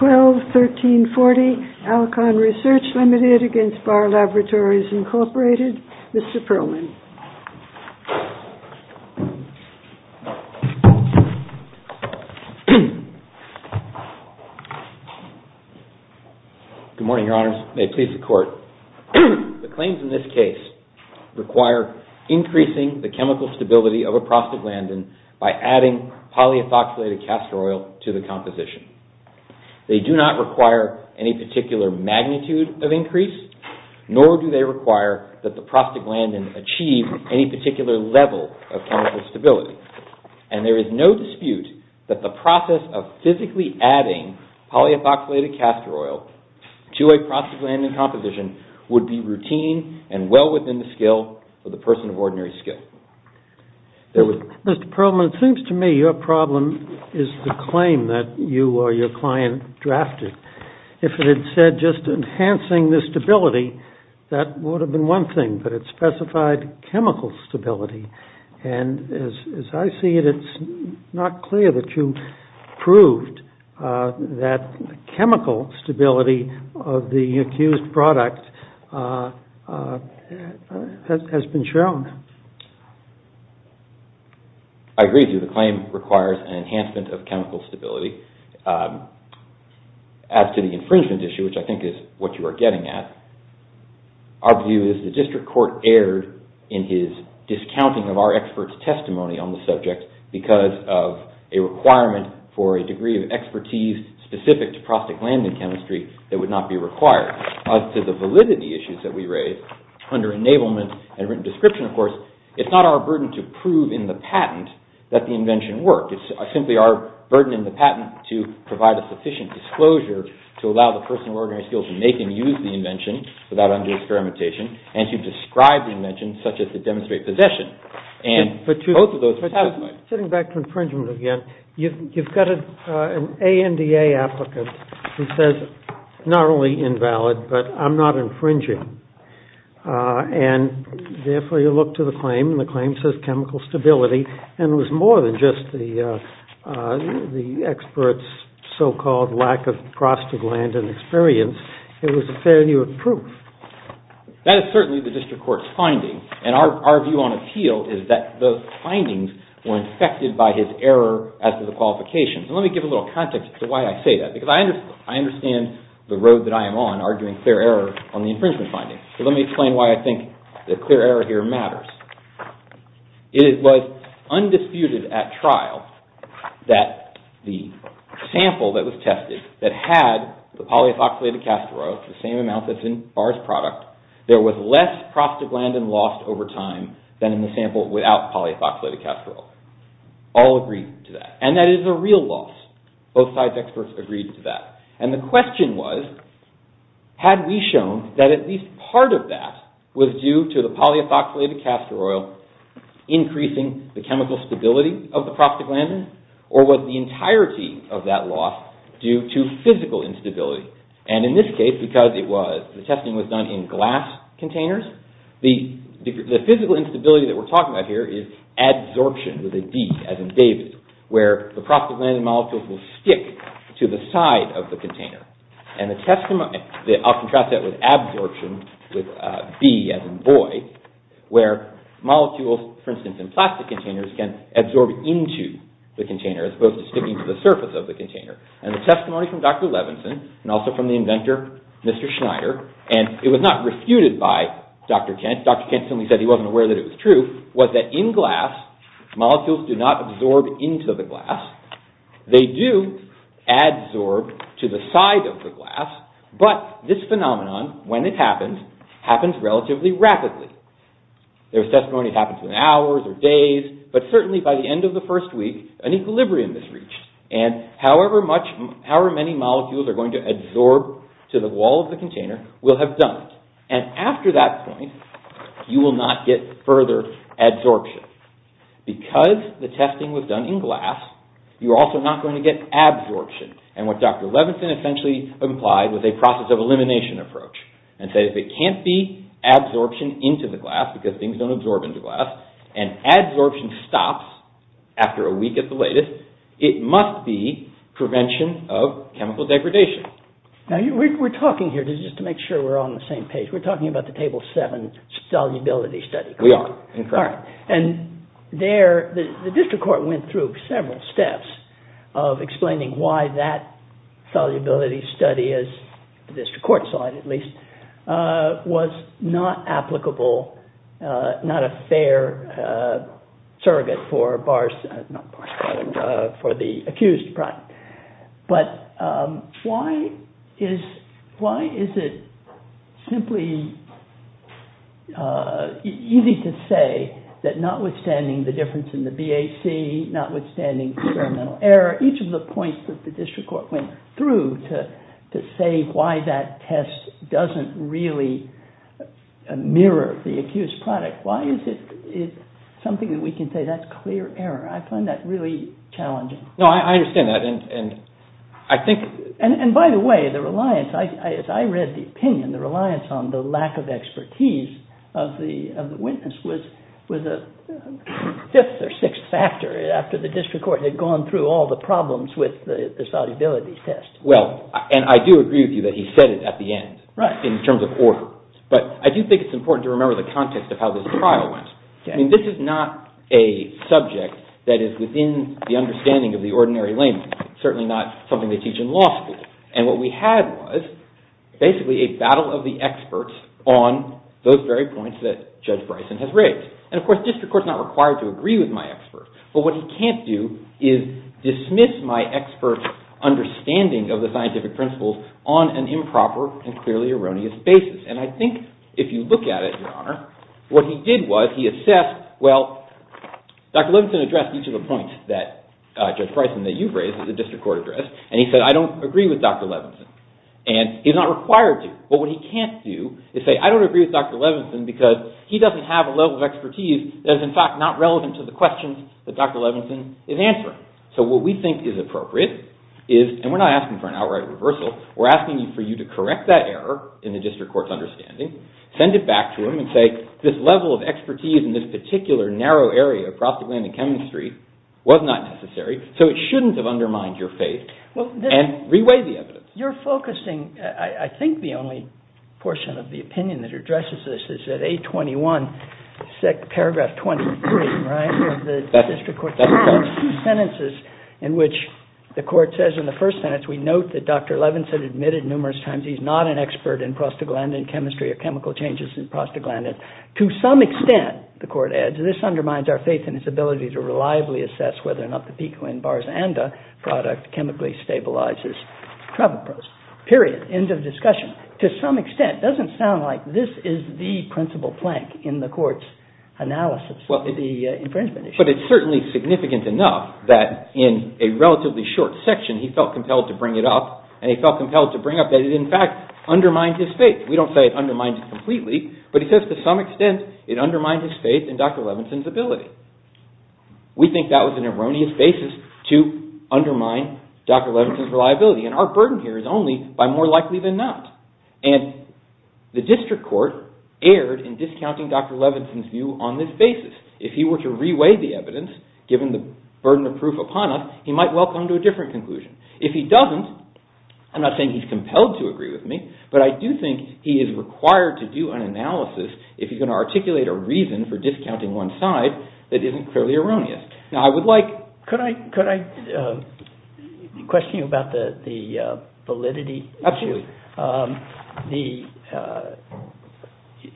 12-1340, ALCON RESEARCH Ltd. v. BARR LABORATORIES, Inc., Mr. Perlman. Good morning, Your Honors. May it please the Court. The claims in this case require increasing the chemical stability of a prostaglandin by adding polyethoxylated castor oil to the composition. They do not require any particular magnitude of increase, nor do they require that the prostaglandin achieve any particular level of chemical stability. And there is no dispute that the process of physically adding polyethoxylated castor oil to a prostaglandin composition would be routine and well within the skill of the person of ordinary skill. Mr. Perlman, it seems to me your problem is the claim that you or your client drafted. If it had said just enhancing the stability, that would have been one thing, but it specified chemical stability. And as I see it, it's not clear that you proved that chemical stability of the accused product has been shown. I agree with you. The claim requires an enhancement of chemical stability. As to the infringement issue, which I think is what you are getting at, our view is the District Court erred in his discounting of our expert's testimony on the subject because of a requirement for a degree of expertise specific to prostaglandin chemistry that would not be required. As to the validity issues that we raise, under enablement and written description, of course, it's not our burden to prove in the patent that the invention worked. It's simply our burden in the patent to provide a sufficient disclosure to allow the person of ordinary skill to make and use the invention without under-experimentation and to describe the invention such as to demonstrate possession. And both of those are satisfied. Sitting back to infringement again, you've got an ANDA applicant who says not only invalid, but I'm not infringing. And therefore, you look to the claim and the claim says chemical stability and it was more than just the expert's so-called lack of prostaglandin experience. It was a failure of proof. That is certainly the District Court's finding. And our view on appeal is that those findings were infected by his error as to the qualifications. And let me give a little context to why I say that because I understand the road that I am on arguing clear error on the infringement finding. So let me explain why I think the clear error here matters. It was undisputed at trial that the sample that was tested that had the polyethoxylated castor oil, the same amount that's in Barr's product, there was less prostaglandin lost over time than in the sample without polyethoxylated castor oil. All agree to that. And that is a real loss. Both sides' experts agreed to that. And the question was, had we shown that at least part of that was due to the polyethoxylated castor oil increasing the chemical stability of the prostaglandin or was the entirety of that loss due to physical instability? And in this case, because the testing was done in glass containers, the physical instability that we're talking about here is adsorption with a D as in David, where the prostaglandin molecules will stick to the side of the container. And I'll contrast that with absorption with B as in Boy, where molecules, for instance, in plastic containers can absorb into the container as opposed to sticking to the surface of the container. And the testimony from Dr. Levinson and also from the inventor, Mr. Schneider, and it was not refuted by Dr. Kent. Dr. Kent simply said he wasn't aware that it was true, was that in glass, molecules do not absorb into the glass. They do adsorb to the side of the glass, but this phenomenon, when it happens, happens relatively rapidly. There was testimony it happens in hours or days, but certainly by the end of the first week, an equilibrium is reached. And however many molecules are going to adsorb to the wall of the container will have done it. And after that point, you will not get further adsorption. Because the testing was done in glass, you're also not going to get adsorption. And what Dr. Levinson essentially implied was a process of elimination approach. And said if it can't be adsorption into the glass because things don't absorb into glass and adsorption stops after a week at the latest, it must be prevention of chemical degradation. Now we're talking here, just to make sure we're on the same page, we're talking about the Table 7 solubility study. And the district court went through several steps of explaining why that solubility study, as the district court saw it at least, was not applicable, not a fair surrogate for the accused. But why is it simply easy to say that notwithstanding the difference in the BAC, notwithstanding experimental error, each of the points that the district court went through to say why that test doesn't really mirror the accused product, why is it something that we can say that's clear error? I find that really challenging. No, I understand that. And by the way, the reliance, as I read the opinion, the reliance on the lack of expertise of the witness was a fifth or sixth factor after the district court had gone through all the problems with the solubility test. Well, and I do agree with you that he said it at the end in terms of order. But I do think it's important to remember the context of how this trial went. I mean, this is not a subject that is within the understanding of the ordinary layman, certainly not something they teach in law school. And what we had was basically a battle of the experts on those very points that Judge Bryson has raised. And of course, district court is not required to agree with my experts. But what he can't do is dismiss my experts' understanding of the scientific principles on an improper and clearly erroneous basis. And I think if you look at it, Your Honor, what he did was he assessed, well, Dr. Levinson addressed each of the points that Judge Bryson, that you've raised at the district court address. And he said, I don't agree with Dr. Levinson. And he's not required to. But what he can't do is say, I don't agree with Dr. Levinson because he doesn't have a level of expertise that is in fact not relevant to the questions that Dr. Levinson is answering. So what we think is appropriate is, and we're not asking for an outright reversal, we're asking for you to correct that error in the district court's understanding, send it back to him and say, this level of expertise in this particular narrow area of prostaglandin chemistry was not necessary. So it shouldn't have undermined your faith. And reweigh the evidence. You're focusing, I think the only portion of the opinion that addresses this is that 821 paragraph 23, right, of the district court. That's correct. There are two sentences in which the court says in the first sentence, we note that Dr. Levinson admitted numerous times he's not an expert in prostaglandin chemistry or chemical changes in prostaglandin. To some extent, the court adds, this undermines our faith in his ability to reliably assess whether or not the picoin-barzanda product chemically stabilizes trebupros. Period. End of discussion. To some extent. It doesn't sound like this is the principal plank in the court's analysis of the infringement issue. But it's certainly significant enough that in a relatively short section he felt compelled to bring it up, and he felt compelled to bring up that it in fact undermines his faith. We don't say it undermines it completely, but he says to some extent it undermines his faith in Dr. Levinson's ability. We think that was an erroneous basis to undermine Dr. Levinson's reliability, and our burden here is only by more likely than not. And the district court erred in discounting Dr. Levinson's view on this basis. If he were to reweigh the evidence, given the burden of proof upon us, he might well come to a different conclusion. If he doesn't, I'm not saying he's compelled to agree with me, but I do think he is required to do an analysis if he's going to articulate a reason for discounting one side that isn't clearly erroneous. Now I would like... Could I question you about the validity issue? Absolutely.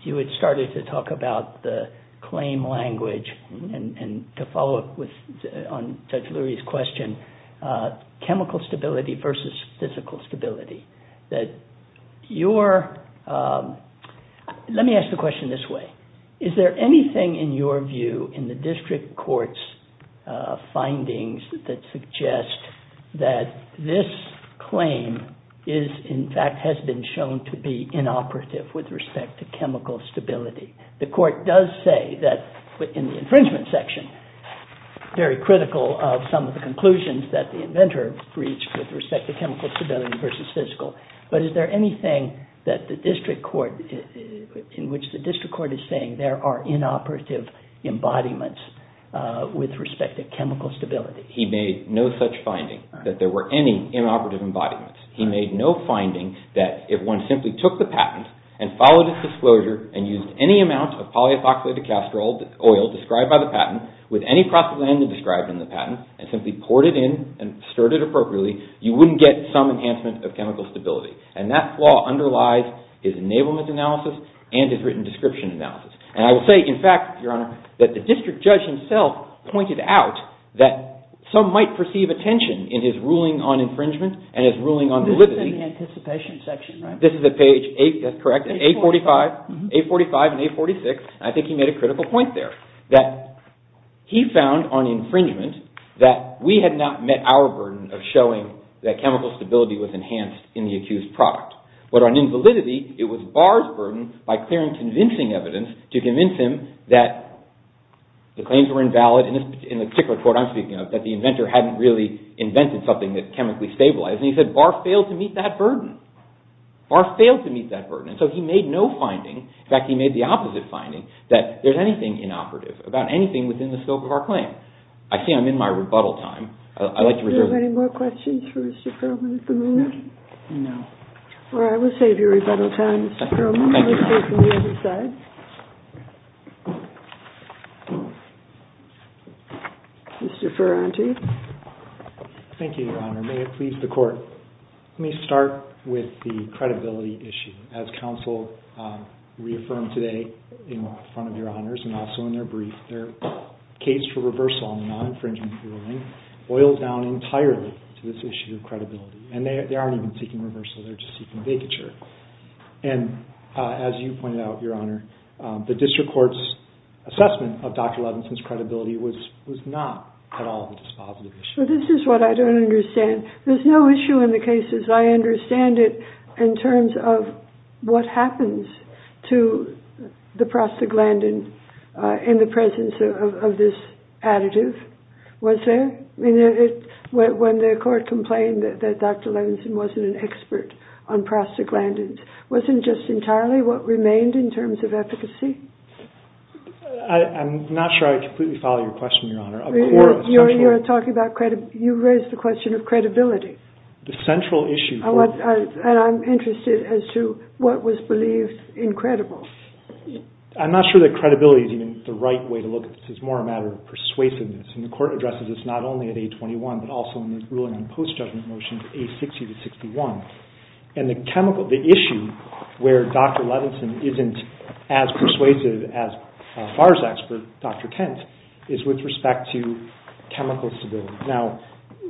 You had started to talk about the claim language and to follow up on Judge Lurie's question, chemical stability versus physical stability. That your... Let me ask the question this way. Is there anything in your view in the district court's findings that suggest that this claim is in fact has been shown to be inoperative with respect to chemical stability? The court does say that in the infringement section, very critical of some of the conclusions that the inventor reached with respect to chemical stability versus physical. But is there anything that the district court, in which the district court is saying there are inoperative embodiments with respect to chemical stability? He made no such finding that there were any inoperative embodiments. He made no finding that if one simply took the patent and followed its disclosure and used any amount of polyethoxylated castor oil described by the patent with any propaganda described in the patent and simply poured it in and stirred it appropriately, you wouldn't get some enhancement of chemical stability. And that flaw underlies his enablement analysis and his written description analysis. And I will say, in fact, Your Honor, that the district judge himself pointed out that some might perceive a tension in his ruling on infringement and his ruling on... It was in the anticipation section, right? This is at page 8, that's correct, at 845, 845 and 846. I think he made a critical point there that he found on infringement that we had not met our burden of showing that chemical stability was enhanced in the accused product. But on invalidity, it was Barr's burden by clearing convincing evidence to convince him that the claims were invalid, in the particular court I'm speaking of, that the inventor hadn't really invented something that chemically stabilized. And he said Barr failed to meet that burden. Barr failed to meet that burden. And so he made no finding, in fact, he made the opposite finding, that there's anything inoperative about anything within the scope of our claim. I see I'm in my rebuttal time. I'd like to reserve... Are there any more questions for Mr. Perlman at the moment? No. All right. We'll save your rebuttal time, Mr. Perlman. We'll stay from the other side. Mr. Ferranti. Thank you, Your Honor. May it please the Court. Let me start with the credibility issue. As counsel reaffirmed today in front of Your Honors, and also in their brief, their case for reversal on the non-infringement ruling boils down entirely to this issue of credibility. And they aren't even seeking reversal, they're just seeking vacature. And as you pointed out, Your Honor, the district court's assessment of Dr. Levinson's credibility was not at all a dispositive issue. This is what I don't understand. There's no issue in the cases. I understand it in terms of what happens to the prostaglandin in the presence of this additive. Was there? When the Court complained that Dr. Levinson wasn't an expert on prostaglandins, wasn't just entirely what remained in terms of efficacy? I'm not sure I completely follow your question, Your Honor. You're talking about credibility. You raised the question of credibility. The central issue... And I'm interested as to what was believed incredible. I'm not sure that credibility is even the right way to look at this. It's more a matter of persuasiveness. And the Court addresses this not only at A21, but also in the ruling on post-judgment motions, A60-61. And the issue where Dr. Levinson isn't as persuasive as Farr's expert, Dr. Kent, is with respect to chemical stability. Now,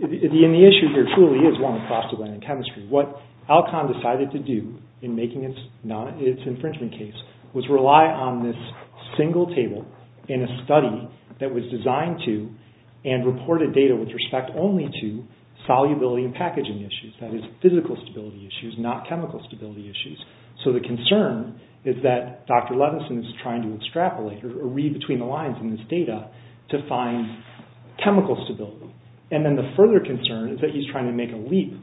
the issue here truly is one of prostaglandin chemistry. What Alcon decided to do in making its infringement case was rely on this single table in a study that was designed to and reported data with respect only to solubility and packaging issues, that is, physical stability issues, not chemical stability issues. So the concern is that Dr. Levinson is trying to extrapolate or read between the lines in this data to find chemical stability. And then the further concern is that he's trying to make a leap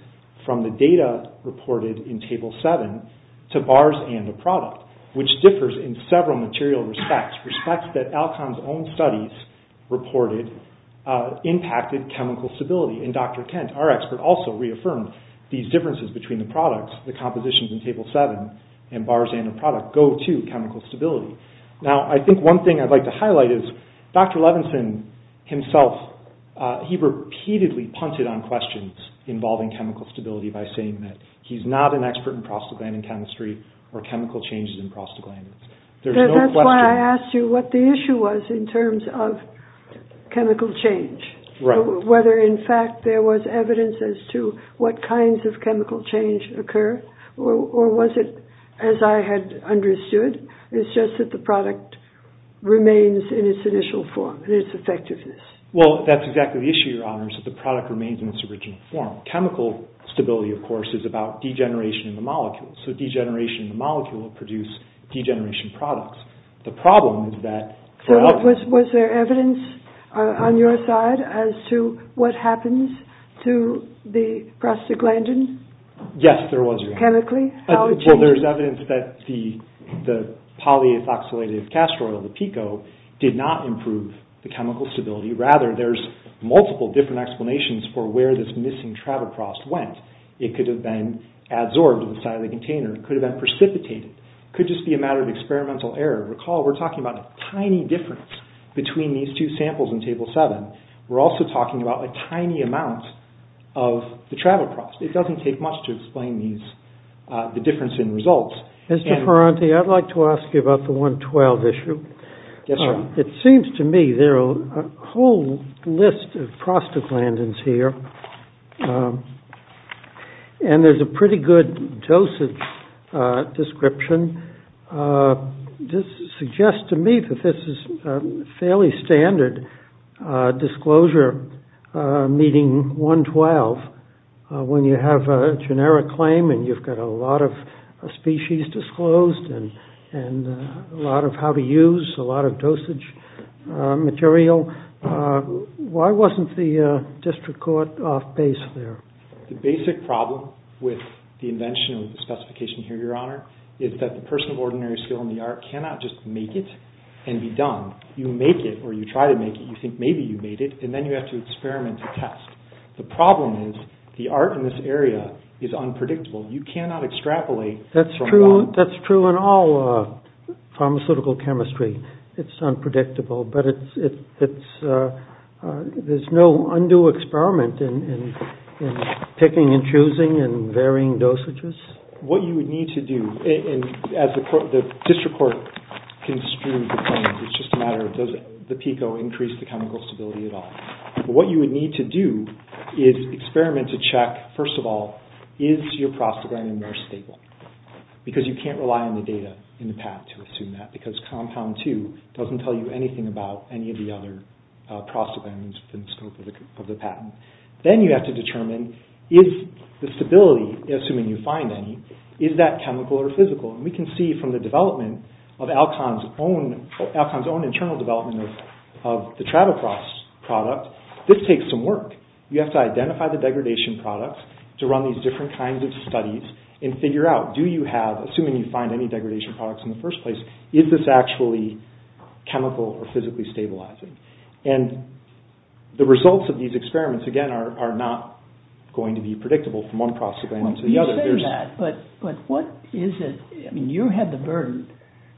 from the data reported in Table 7 to bars and a product, which differs in several material respects, respects that Alcon's own studies reported impacted chemical stability. And Dr. Kent, our expert, also reaffirmed these differences between the products, the compositions in Table 7 and bars and a product, go to chemical stability. Now, I think one thing I'd like to highlight is that Dr. Levinson himself, he repeatedly punted on questions involving chemical stability by saying that he's not an expert in prostaglandin chemistry or chemical changes in prostaglandins. There's no question... That's why I asked you what the issue was in terms of chemical change. Whether, in fact, there was evidence as to what kinds of chemical change occur or was it, as I had understood, it's just that the product remains in its initial form, in its effectiveness. Well, that's exactly the issue, Your Honor, is that the product remains in its original form. Chemical stability, of course, is about degeneration in the molecules. So degeneration in the molecules will produce degeneration products. The problem is that for Alcon... So was there evidence on your side Yes, there was. Chemically? How it changes? The polyethoxylated castor oil, the PECO, did not improve the chemical stability. Rather, there's multiple different explanations for where this missing trabel frost went. It could have been adsorbed to the side of the container. It could have been precipitated. It could just be a matter of experimental error. Recall, we're talking about a tiny difference between these two samples in Table 7. We're also talking about a tiny amount of the travel frost. It doesn't take much to explain the difference in results. Mr. Ferranti, I'd like to ask you about the 1.12 issue. Yes, Your Honor. It seems to me there are a whole list of prostaglandins here. And there's a pretty good dosage description. This suggests to me that this is a fairly standard disclosure meeting 1.12. When you have a generic claim and you've got a lot of species, a lot of species disclosed, and a lot of how to use, a lot of dosage material, why wasn't the district court off base there? The basic problem with the invention of the specification here, Your Honor, is that the person of ordinary skill in the art cannot just make it and be done. You make it, or you try to make it. You think maybe you made it, and then you have to experiment to test. The problem is the art in this area is unpredictable. You cannot extrapolate. That's true in all pharmaceutical chemistry. It's unpredictable, but there's no undue experiment in picking and choosing and varying dosages. What you would need to do, as the district court construed the claims, it's just a matter of does the PICO increase the chemical stability at all. What you would need to do is experiment to check, first of all, is your prostaglandin very stable, because you can't rely on the data in the patent to assume that, because compound two doesn't tell you anything about any of the other prostaglandins within the scope of the patent. Then you have to determine is the stability, assuming you find any, is that chemical or physical? We can see from the development of Alcon's own internal development of the Travelcross product, this takes some work. You have to identify the degradation products, to run these different kinds of studies, and figure out, assuming you find any degradation products in the first place, is this actually chemical or physically stabilizing? The results of these experiments, again, are not going to be predictable from one prostaglandin to the other. You say that, but what is it? You have the burden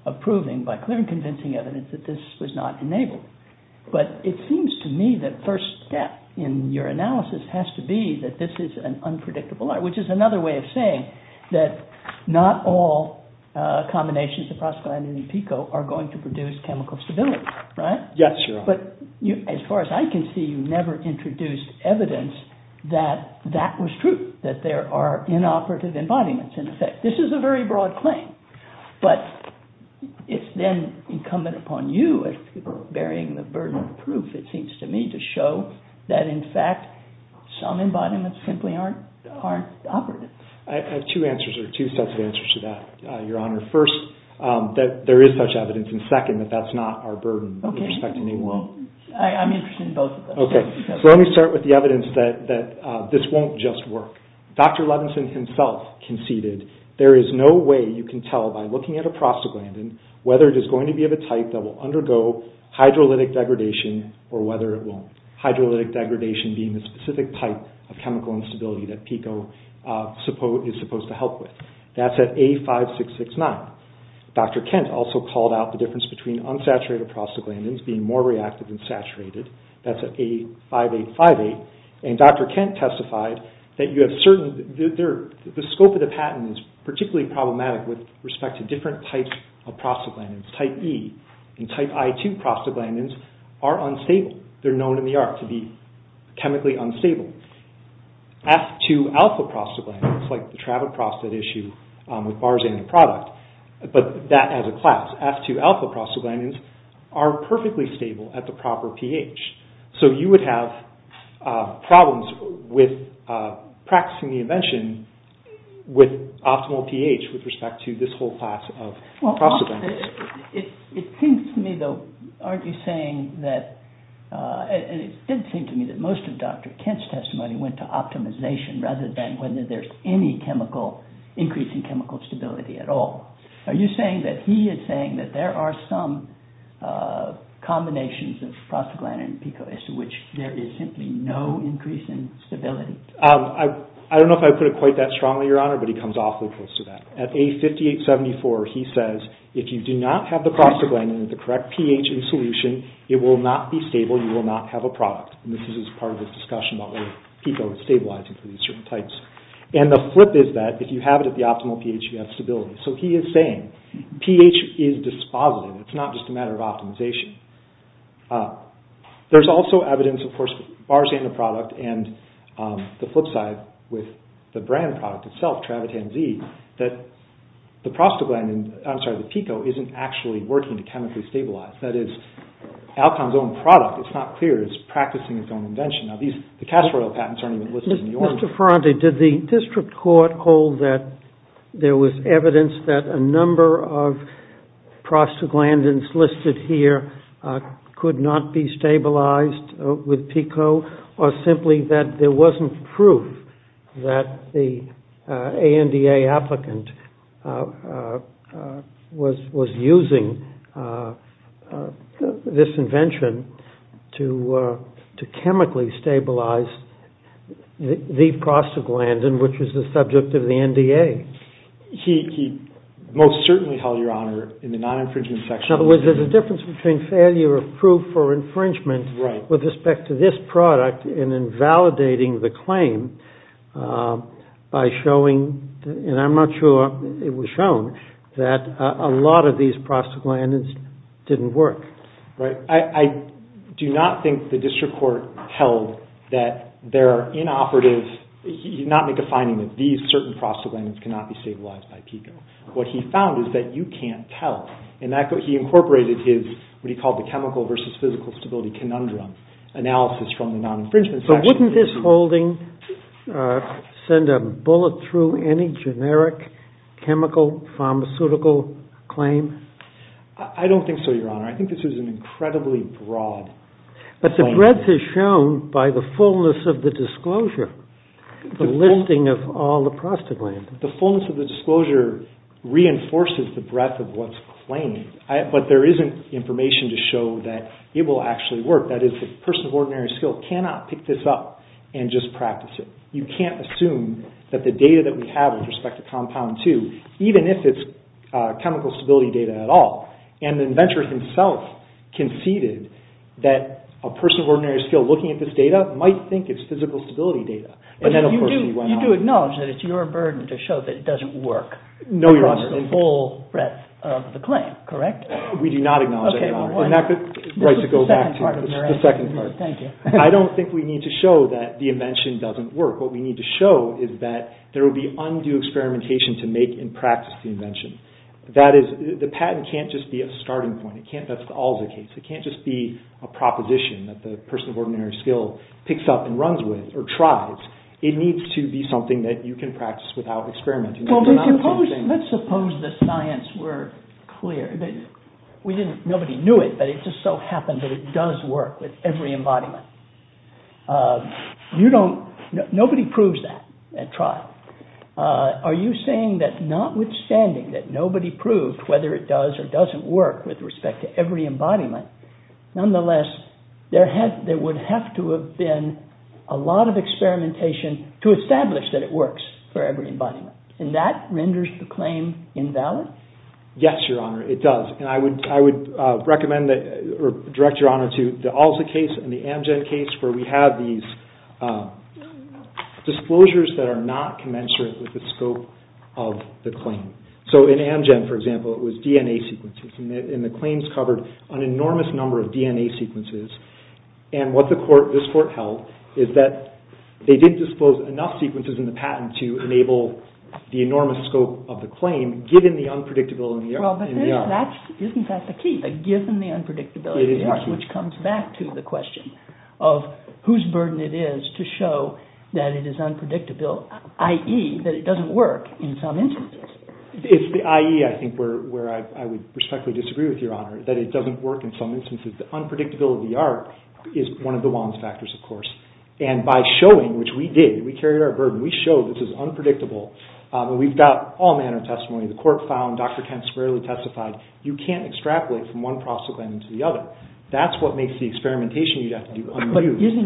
of proving, by clear and convincing evidence, that this was not enabled. But it seems to me that first step in your analysis has to be that this is an unpredictable art, which is another way of saying that not all combinations of prostaglandins and PICO are going to produce chemical stability, right? But as far as I can see, you never introduced evidence that that was true, that there are inoperative embodiments in effect. This is a very broad claim, but it's then incumbent upon you, bearing the burden of proof, it seems to me, to show that, in fact, some embodiments simply aren't operative. I have two answers, or two sets of answers to that, Your Honor. First, that there is such evidence, and second, that that's not our burden with respect to name one. I'm interested in both of them. Let me start with the evidence that this won't just work. Dr. Levinson himself conceded there is no way you can tell by looking at a prostaglandin whether it is going to be of a type that will undergo hydrolytic degradation or whether it won't. Hydrolytic degradation being the specific type of chemical instability that PECO is supposed to help with. That's at A5669. Dr. Kent also called out the difference between unsaturated prostaglandins being more reactive than saturated. That's at A5858. And Dr. Kent testified that the scope of the patent is particularly problematic with respect to different types of prostaglandins. Type E and type I2 prostaglandins are unstable. They're known in the art to be chemically unstable. F2-alpha prostaglandins, like the travel prostate issue with bars in the product, but that has a class. F2-alpha prostaglandins are perfectly stable at the proper pH. So you would have problems with practicing the invention with optimal pH with respect to this whole class of prostaglandins. It seems to me, though, and it did seem to me that most of Dr. Kent's testimony went to optimization rather than whether there's any increase in chemical stability at all. Are you saying that he is saying that there are some combinations of prostaglandin and PECO as to which there is simply no increase in stability? I don't know if I put it quite that strongly, Your Honor, but he comes awfully close to that. At A5874 he says if you do not have the prostaglandin it will not be stable, you will not have a product. And this is part of the discussion about whether PECO is stabilizing for these certain types. And the flip is that if you have it at the optimal pH you have stability. So he is saying pH is dispositive. It's not just a matter of optimization. There's also evidence, of course, with bars in the product and the flip side with the brand product itself, Travitam Z, that the PECO isn't actually Travitam's own product. It's not clear. It's practicing its own invention. Now, the castor oil patents aren't even listed in the Ordinance. Mr. Ferrante, did the District Court call that there was evidence that a number of prostaglandins listed here could not be stabilized with PECO or simply that there wasn't proof that the ANDA applicant was using this invention and that the PECO was using this invention to chemically stabilize the prostaglandin, which was the subject of the NDA? He most certainly held your honor in the non-infringement section. In other words, there's a difference between failure of proof or infringement with respect to this product and invalidating the claim by showing, and I'm not sure it was shown, that a lot of these prostaglandins didn't work. Right. I do not think the District Court held that there are inoperative... He did not make a finding that these certain prostaglandins cannot be stabilized by PECO. What he found is that you can't tell. He incorporated what he called the chemical versus physical stability conundrum analysis from the non-infringement section. So wouldn't this holding send a bullet through to a pharmaceutical claim? I don't think so, your honor. I think this is an incredibly broad claim. But the breadth is shown by the fullness of the disclosure, the listing of all the prostaglandins. The fullness of the disclosure reinforces the breadth of what's claimed, but there isn't information to show that it will actually work. That is, a person of ordinary skill cannot pick this up and just practice it. You can't assume that the data that we have with respect to compound 2, even if it's chemical stability data at all. And the inventor himself conceded that a person of ordinary skill looking at this data might think it's physical stability data. But you do acknowledge that it's your burden to show that it doesn't work from the full breadth of the claim, correct? We do not acknowledge that, your honor. This is the second part. I don't think we need to show that the invention doesn't work. What we need to show is that there will be undue experimentation to make and practice the invention. The patent can't just be a starting point. That's always the case. It can't just be a proposition that the person of ordinary skill picks up and runs with or tries. It needs to be something that you can practice without experimenting. Let's suppose the science were clear. Nobody knew it, but it just so happened that it does work with every embodiment. Nobody proves that at trial. Are you saying that, notwithstanding that nobody proved whether it does or doesn't work with respect to every embodiment, nonetheless, there would have to have been a lot of experimentation to establish that it works for every embodiment. And that renders the claim invalid? Yes, your honor, it does. And I would recommend or direct your honor to the ALSA case and the Amgen case where we have these disclosures that are not commensurate with the scope of the claim. So in Amgen, for example, it was DNA sequences. And the claims covered an enormous number of DNA sequences. And what this court held is that they didn't disclose enough sequences in the patent to enable the enormous scope of the claim, given the unpredictability. Isn't that the key? It's the identification of whose burden it is to show that it is unpredictable, i.e., that it doesn't work in some instances. It's the i.e., I think, where I would respectfully disagree with your honor, that it doesn't work in some instances. The unpredictability is one of the wrong factors, of course. And by showing, which we did, but using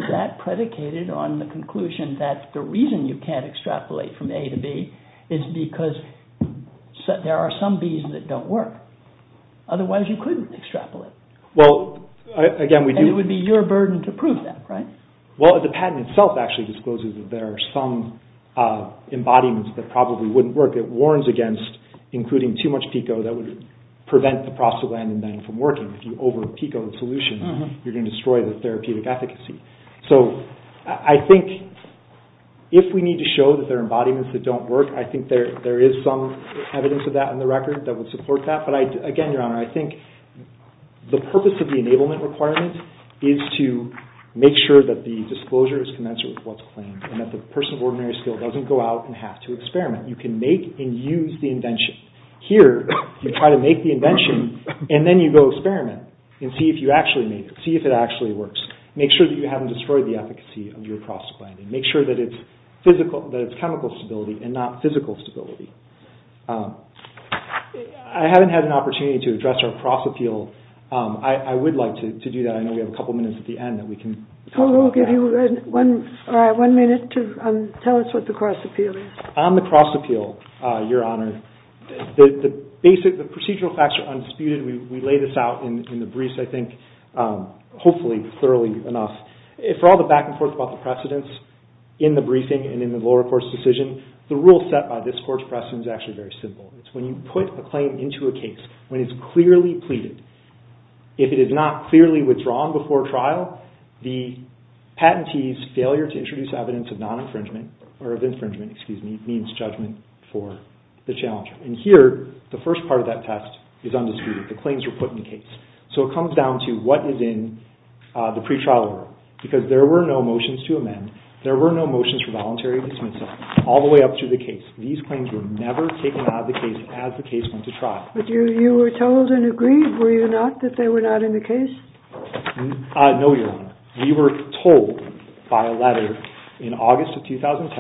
that predicated on the conclusion that the reason you can't extrapolate from A to B is because there are some Bs that don't work. Otherwise, you couldn't extrapolate. And it would be your burden to prove that, right? Well, the patent itself actually discloses that there are some embodiments that probably wouldn't work. It warns against including too much PICO that would prevent scientific efficacy. So I think if we need to show that there are embodiments that don't work, I think there is some evidence of that in the record that would support that. But again, your honor, I think the purpose of the enablement requirement is to make sure that the disclosure is commensurate with what's claimed and that the person makes sure that you haven't destroyed the efficacy of your cross-appealing. Make sure that it's chemical stability and not physical stability. I haven't had an opportunity to address our cross-appeal. I would like to do that. I know we have a couple minutes at the end that we can talk about that. We'll give you one minute to tell us what the cross-appeal is. On the cross-appeal, your honor, the basic procedural facts are unspewed. We lay this out in the briefs, and that's enough. For all the back-and-forth about the precedents in the briefing and in the lower court's decision, the rule set by this court's precedents is actually very simple. It's when you put a claim into a case when it's clearly pleaded. If it is not clearly withdrawn before trial, the patentee's failure to introduce evidence of infringement means judgment for the challenger. Here, the first part of that test is that the challenger who has the power because there were no motions to amend. There were no motions for voluntary dismissal all the way up to the case. These claims were never taken out of the case as the case went to trial. But you were told and agreed, were you not, that they were not in the case? No, your honor. We were told by a letter in August of 2010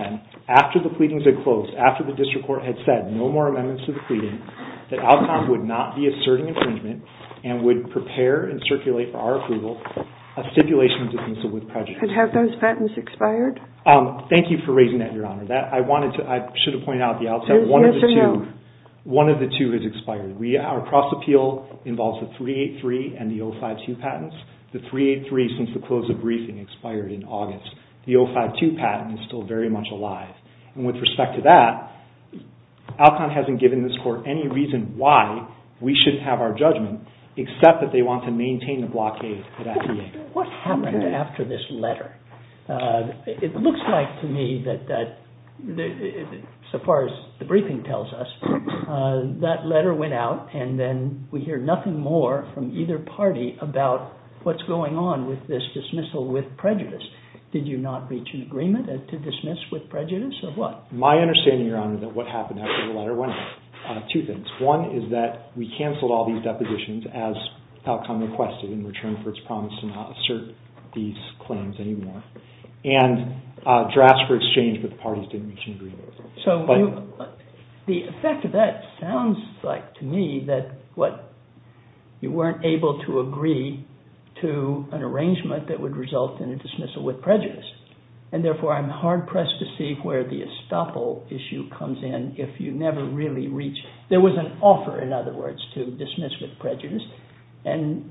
after the pleadings had closed, after the district court had said no more amendments to the pleading, that Alcon would not be asserting infringement and would prepare and circulate for our approval a stipulation of dismissal with prejudice. And have those patents expired? Thank you for raising that, your honor. I should have pointed out at the outset one of the two has expired. Our cross-appeal involves the 383 and the 052 patents. The 383 since the close of briefing expired in August. And with respect to that, Alcon hasn't given this court any reason why we should have our judgment except that they want to maintain the blockade at FDA. What happened after this letter? It looks like to me that so far as the briefing tells us, that letter went out and then we hear nothing more from either party about what's going on with this dismissal with prejudice. Did you not reach an agreement with prejudice or what? My understanding, your honor, is that what happened after the letter went out. Two things. One is that we canceled all these depositions as Alcon requested in return for its promise to not assert these claims anymore. And drafts were exchanged but the parties didn't reach an agreement. So the effect of that sounds like to me that you weren't able to agree to an arrangement that would result in a dismissal where the estoppel issue comes in if you never really reach... There was an offer, in other words, to dismiss with prejudice and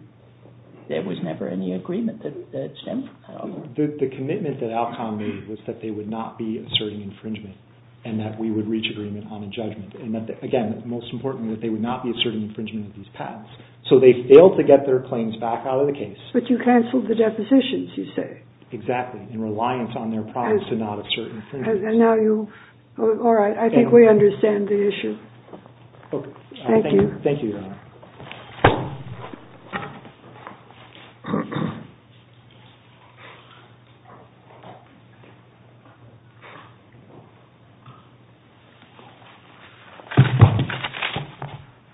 there was never any agreement that stemmed from that. The commitment that Alcon made was that they would not be asserting infringement and that we would reach agreement on a judgment. And again, most importantly, that they would not be asserting infringement of these patents. So they failed to get their claims back out of the case. Now you... All right, I think we understand the issue. Thank you. Thank you, Your Honor.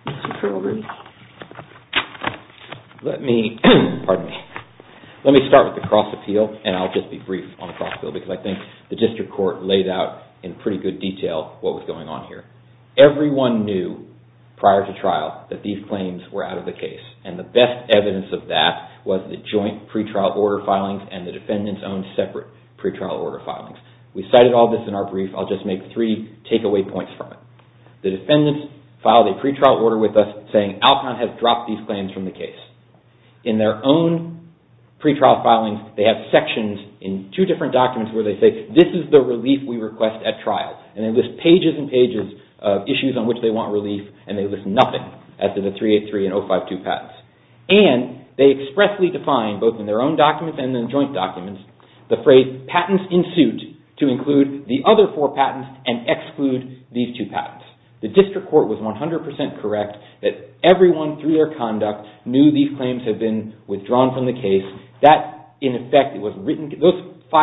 Mr. Perlman. Let me... Let me start with the cross appeal and I'll just be brief on the cross appeal because I think the district court laid out in pretty good detail what was going on here. Everyone knew prior to trial that these claims were out of the case and the best evidence of that was the joint pretrial order filings and the defendants' own separate pretrial order filings. We cited all this in our brief. I'll just make three takeaway points from it. The defendants filed a pretrial order with us saying Alcon has dropped these claims from the case. In their own pretrial filings where they say this is the relief we request at trial and they list pages and pages of issues on which they want relief and they list nothing as to the 383 and 052 patents. And they expressly defined both in their own documents and in the joint documents the phrase patents in suit to include the other four patents and exclude these two patents. The district court was 100% correct that everyone through their conduct knew these claims had been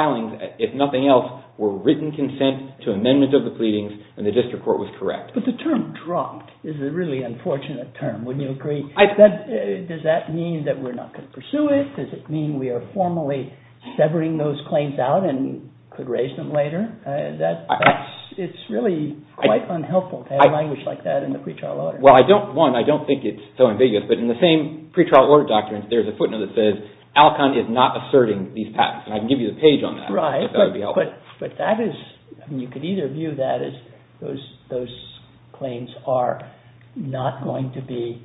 and if nothing else were written consent to amendment of the pleadings and the district court was correct. But the term dropped is a really unfortunate term. Wouldn't you agree? Does that mean that we're not going to pursue it? Does it mean we are formally severing those claims out and could raise them later? It's really quite unhelpful to have language like that in the pretrial order. Well, one, I don't think it's so ambiguous but in the same pretrial order documents there's a footnote that says Alcon is not asserting these patents so that would be helpful. But you could either view that as those claims are not going to be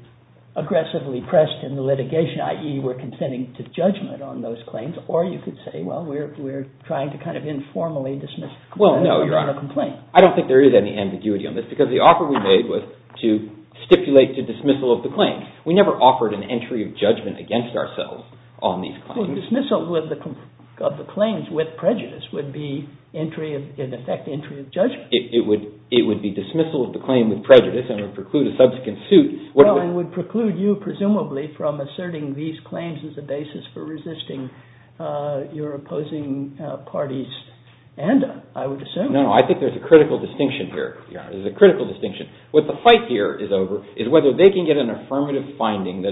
aggressively pressed in the litigation i.e. we're consenting to judgment on those claims or you could say, well, we're trying to kind of informally dismiss the amount of complaints. I don't think there is any ambiguity on this because the offer we made was to stipulate the dismissal of the claims. We never offered an entry of judgment against ourselves on these claims. Well, dismissal of the claims would be in effect entry of judgment. It would be dismissal of the claim with prejudice and would preclude a subsequent suit. Well, it would preclude you presumably from asserting these claims as a basis for resisting your opposing parties and I would assume. No, no, I think there's a critical distinction here. There's a critical distinction. What the fight here is over is whether they can get an affirmative finding A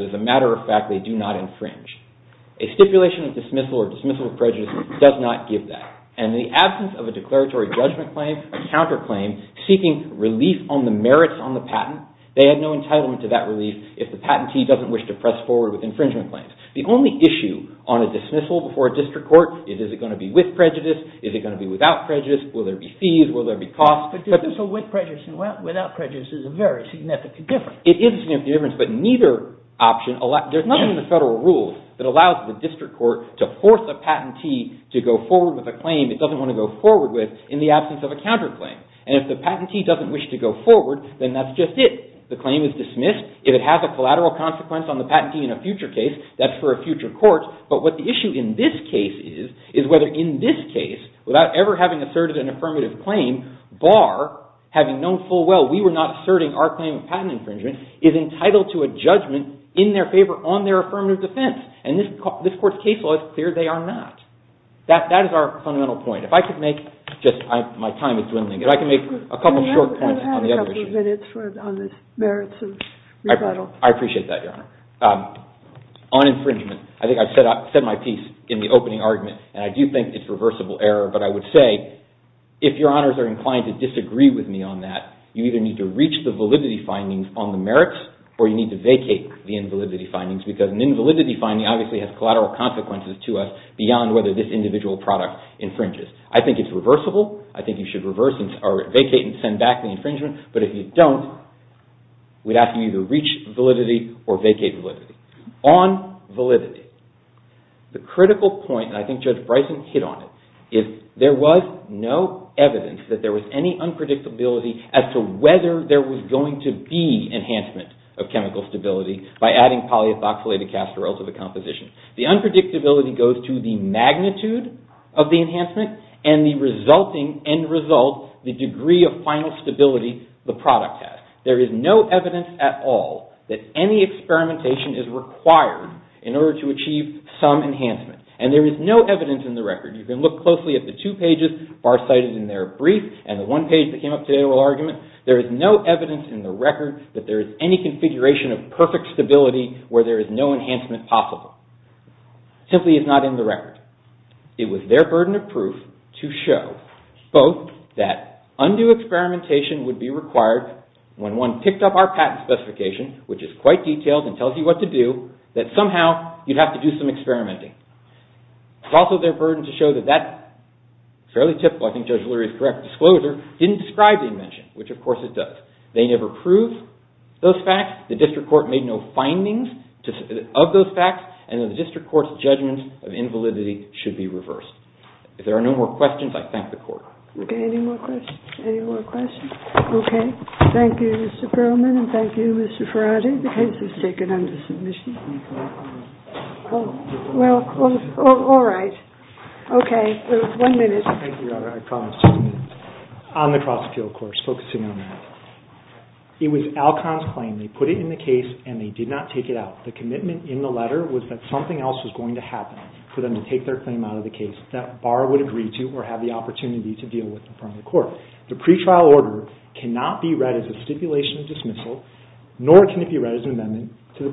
stipulation of dismissal or dismissal of prejudice does not give that. And the absence of a declaratory judgment claim, a counterclaim, seeking relief on the merits on the patent, they had no entitlement to that relief if the patentee doesn't wish to press forward with infringement claims. The only issue on a dismissal before a district court is is it going to be with prejudice, is it going to be without prejudice, will there be fees, will there be costs. But dismissal with prejudice and without prejudice is a very significant difference. It is a significant difference, but neither option allows, the patentee to go forward with a claim it doesn't want to go forward with in the absence of a counterclaim. And if the patentee doesn't wish to go forward, then that's just it. The claim is dismissed. If it has a collateral consequence on the patentee in a future case, that's for a future court. But what the issue in this case is is whether in this case, without ever having asserted an affirmative claim, bar having known full well we were not asserting our claim of patent infringement, is entitled to a judgment in their favor that that is our fundamental point. If I could make just my time is dwindling. If I could make a couple of short points. We have a couple of minutes on the merits of rebuttal. I appreciate that, Your Honor. On infringement, I think I said my piece in the opening argument and I do think it's reversible error, but I would say if Your Honors are inclined to disagree with me on that, you either need to reach the validity findings on the merits or you need to vacate the invalidity findings because an invalidity finding obviously has collateral consequences to us if an individual product infringes. I think it's reversible. I think you should vacate and send back the infringement. But if you don't, we'd have to either reach validity or vacate validity. On validity, the critical point, and I think Judge Bryson hit on it, is there was no evidence that there was any unpredictability as to whether there was going to be enhancement of chemical stability by adding polyethoxylated castor oil to the composition. The unpredictability goes to the magnitude of the enhancement and the resulting end result, the degree of final stability the product has. There is no evidence at all that any experimentation is required in order to achieve some enhancement. And there is no evidence in the record. You can look closely at the two pages farsighted in their brief and the one page that came up today in the argument. There is no evidence in the record that there is any configuration of perfect stability where there is no enhancement possible. It simply is not in the record. It was their burden of proof to show both that undue experimentation would be required when one picked up our patent specification, which is quite detailed and tells you what to do, that somehow you'd have to do some experimenting. It's also their burden to show that that fairly typical, I think Judge Lurie's correct disclosure, didn't describe the invention, which of course it does. They never proved those facts. It's their burden of those facts and the District Court's judgment of invalidity should be reversed. If there are no more questions, I thank the Court. Okay, any more questions? Okay, thank you Mr. Perlman and thank you Mr. Ferrari. The case is taken under submission. Well, all right. Okay, there was one minute. Thank you, Your Honor. I promise just a minute. On the cross-appeal, of course, focusing on that. It was Alcon's claim. They put it in the case and they did not take it out. The commitment in the letter was that something else was going to happen for them to take their claim out of the case, that Barr would agree to or have the opportunity to deal with it from the Court. The pretrial order cannot be read as a stipulation of dismissal or seeking amendment of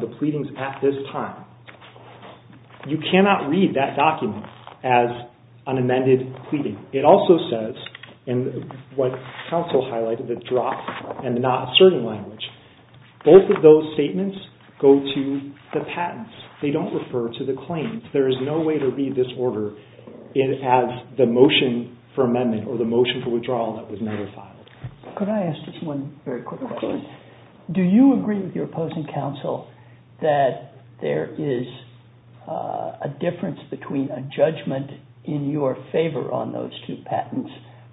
the pleadings at this time. You cannot read that document as an amended pleading. It also says, what counsel highlighted, the drop and not asserting language. Both of those statements go to the patents. They don't refer to the claims. There is no way to read this order as the motion for amendment or the motion for withdrawal that was never filed. Could I ask just one very quick question? Could I ask counsel that there is a difference between a judgment in your favor on those two patents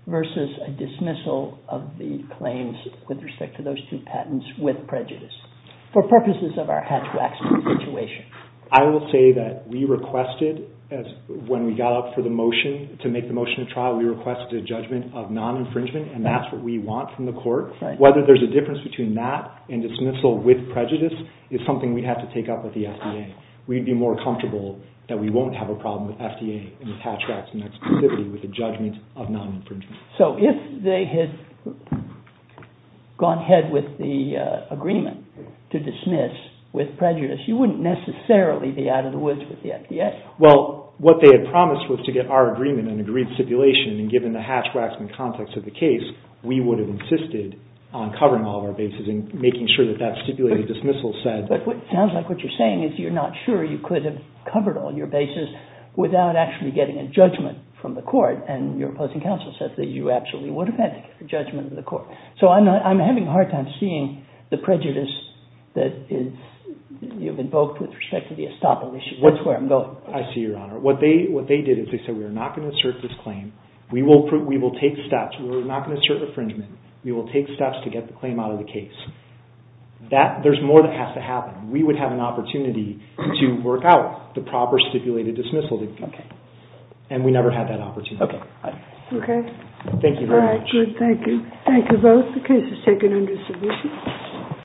versus a dismissal of the claims with respect to those two patents with prejudice for purposes of our hatchback situation? I will say that we requested when we got up for the motion to make the motion of trial, we requested a judgment of non-infringement is something we have to take up with the FDA. We'd be more comfortable that we won't have a problem with FDA and its hatchbacks and exclusivity with the judgment of non-infringement. So if they had gone ahead with the agreement to dismiss with prejudice, you wouldn't necessarily be out of the woods with the FDA? Well, what they had promised was to get our agreement with the FDA. But it sounds like what you're saying is you're not sure you could have covered all your bases without actually getting a judgment from the court and your opposing counsel said that you absolutely would have had to get a judgment from the court. So I'm having a hard time seeing the prejudice that you've invoked with respect to the estoppel issue. What's where I'm going? Well, that's not going to happen. We would have an opportunity to work out the proper stipulated dismissal. And we never have that opportunity. Thank you very much. Good, thank you.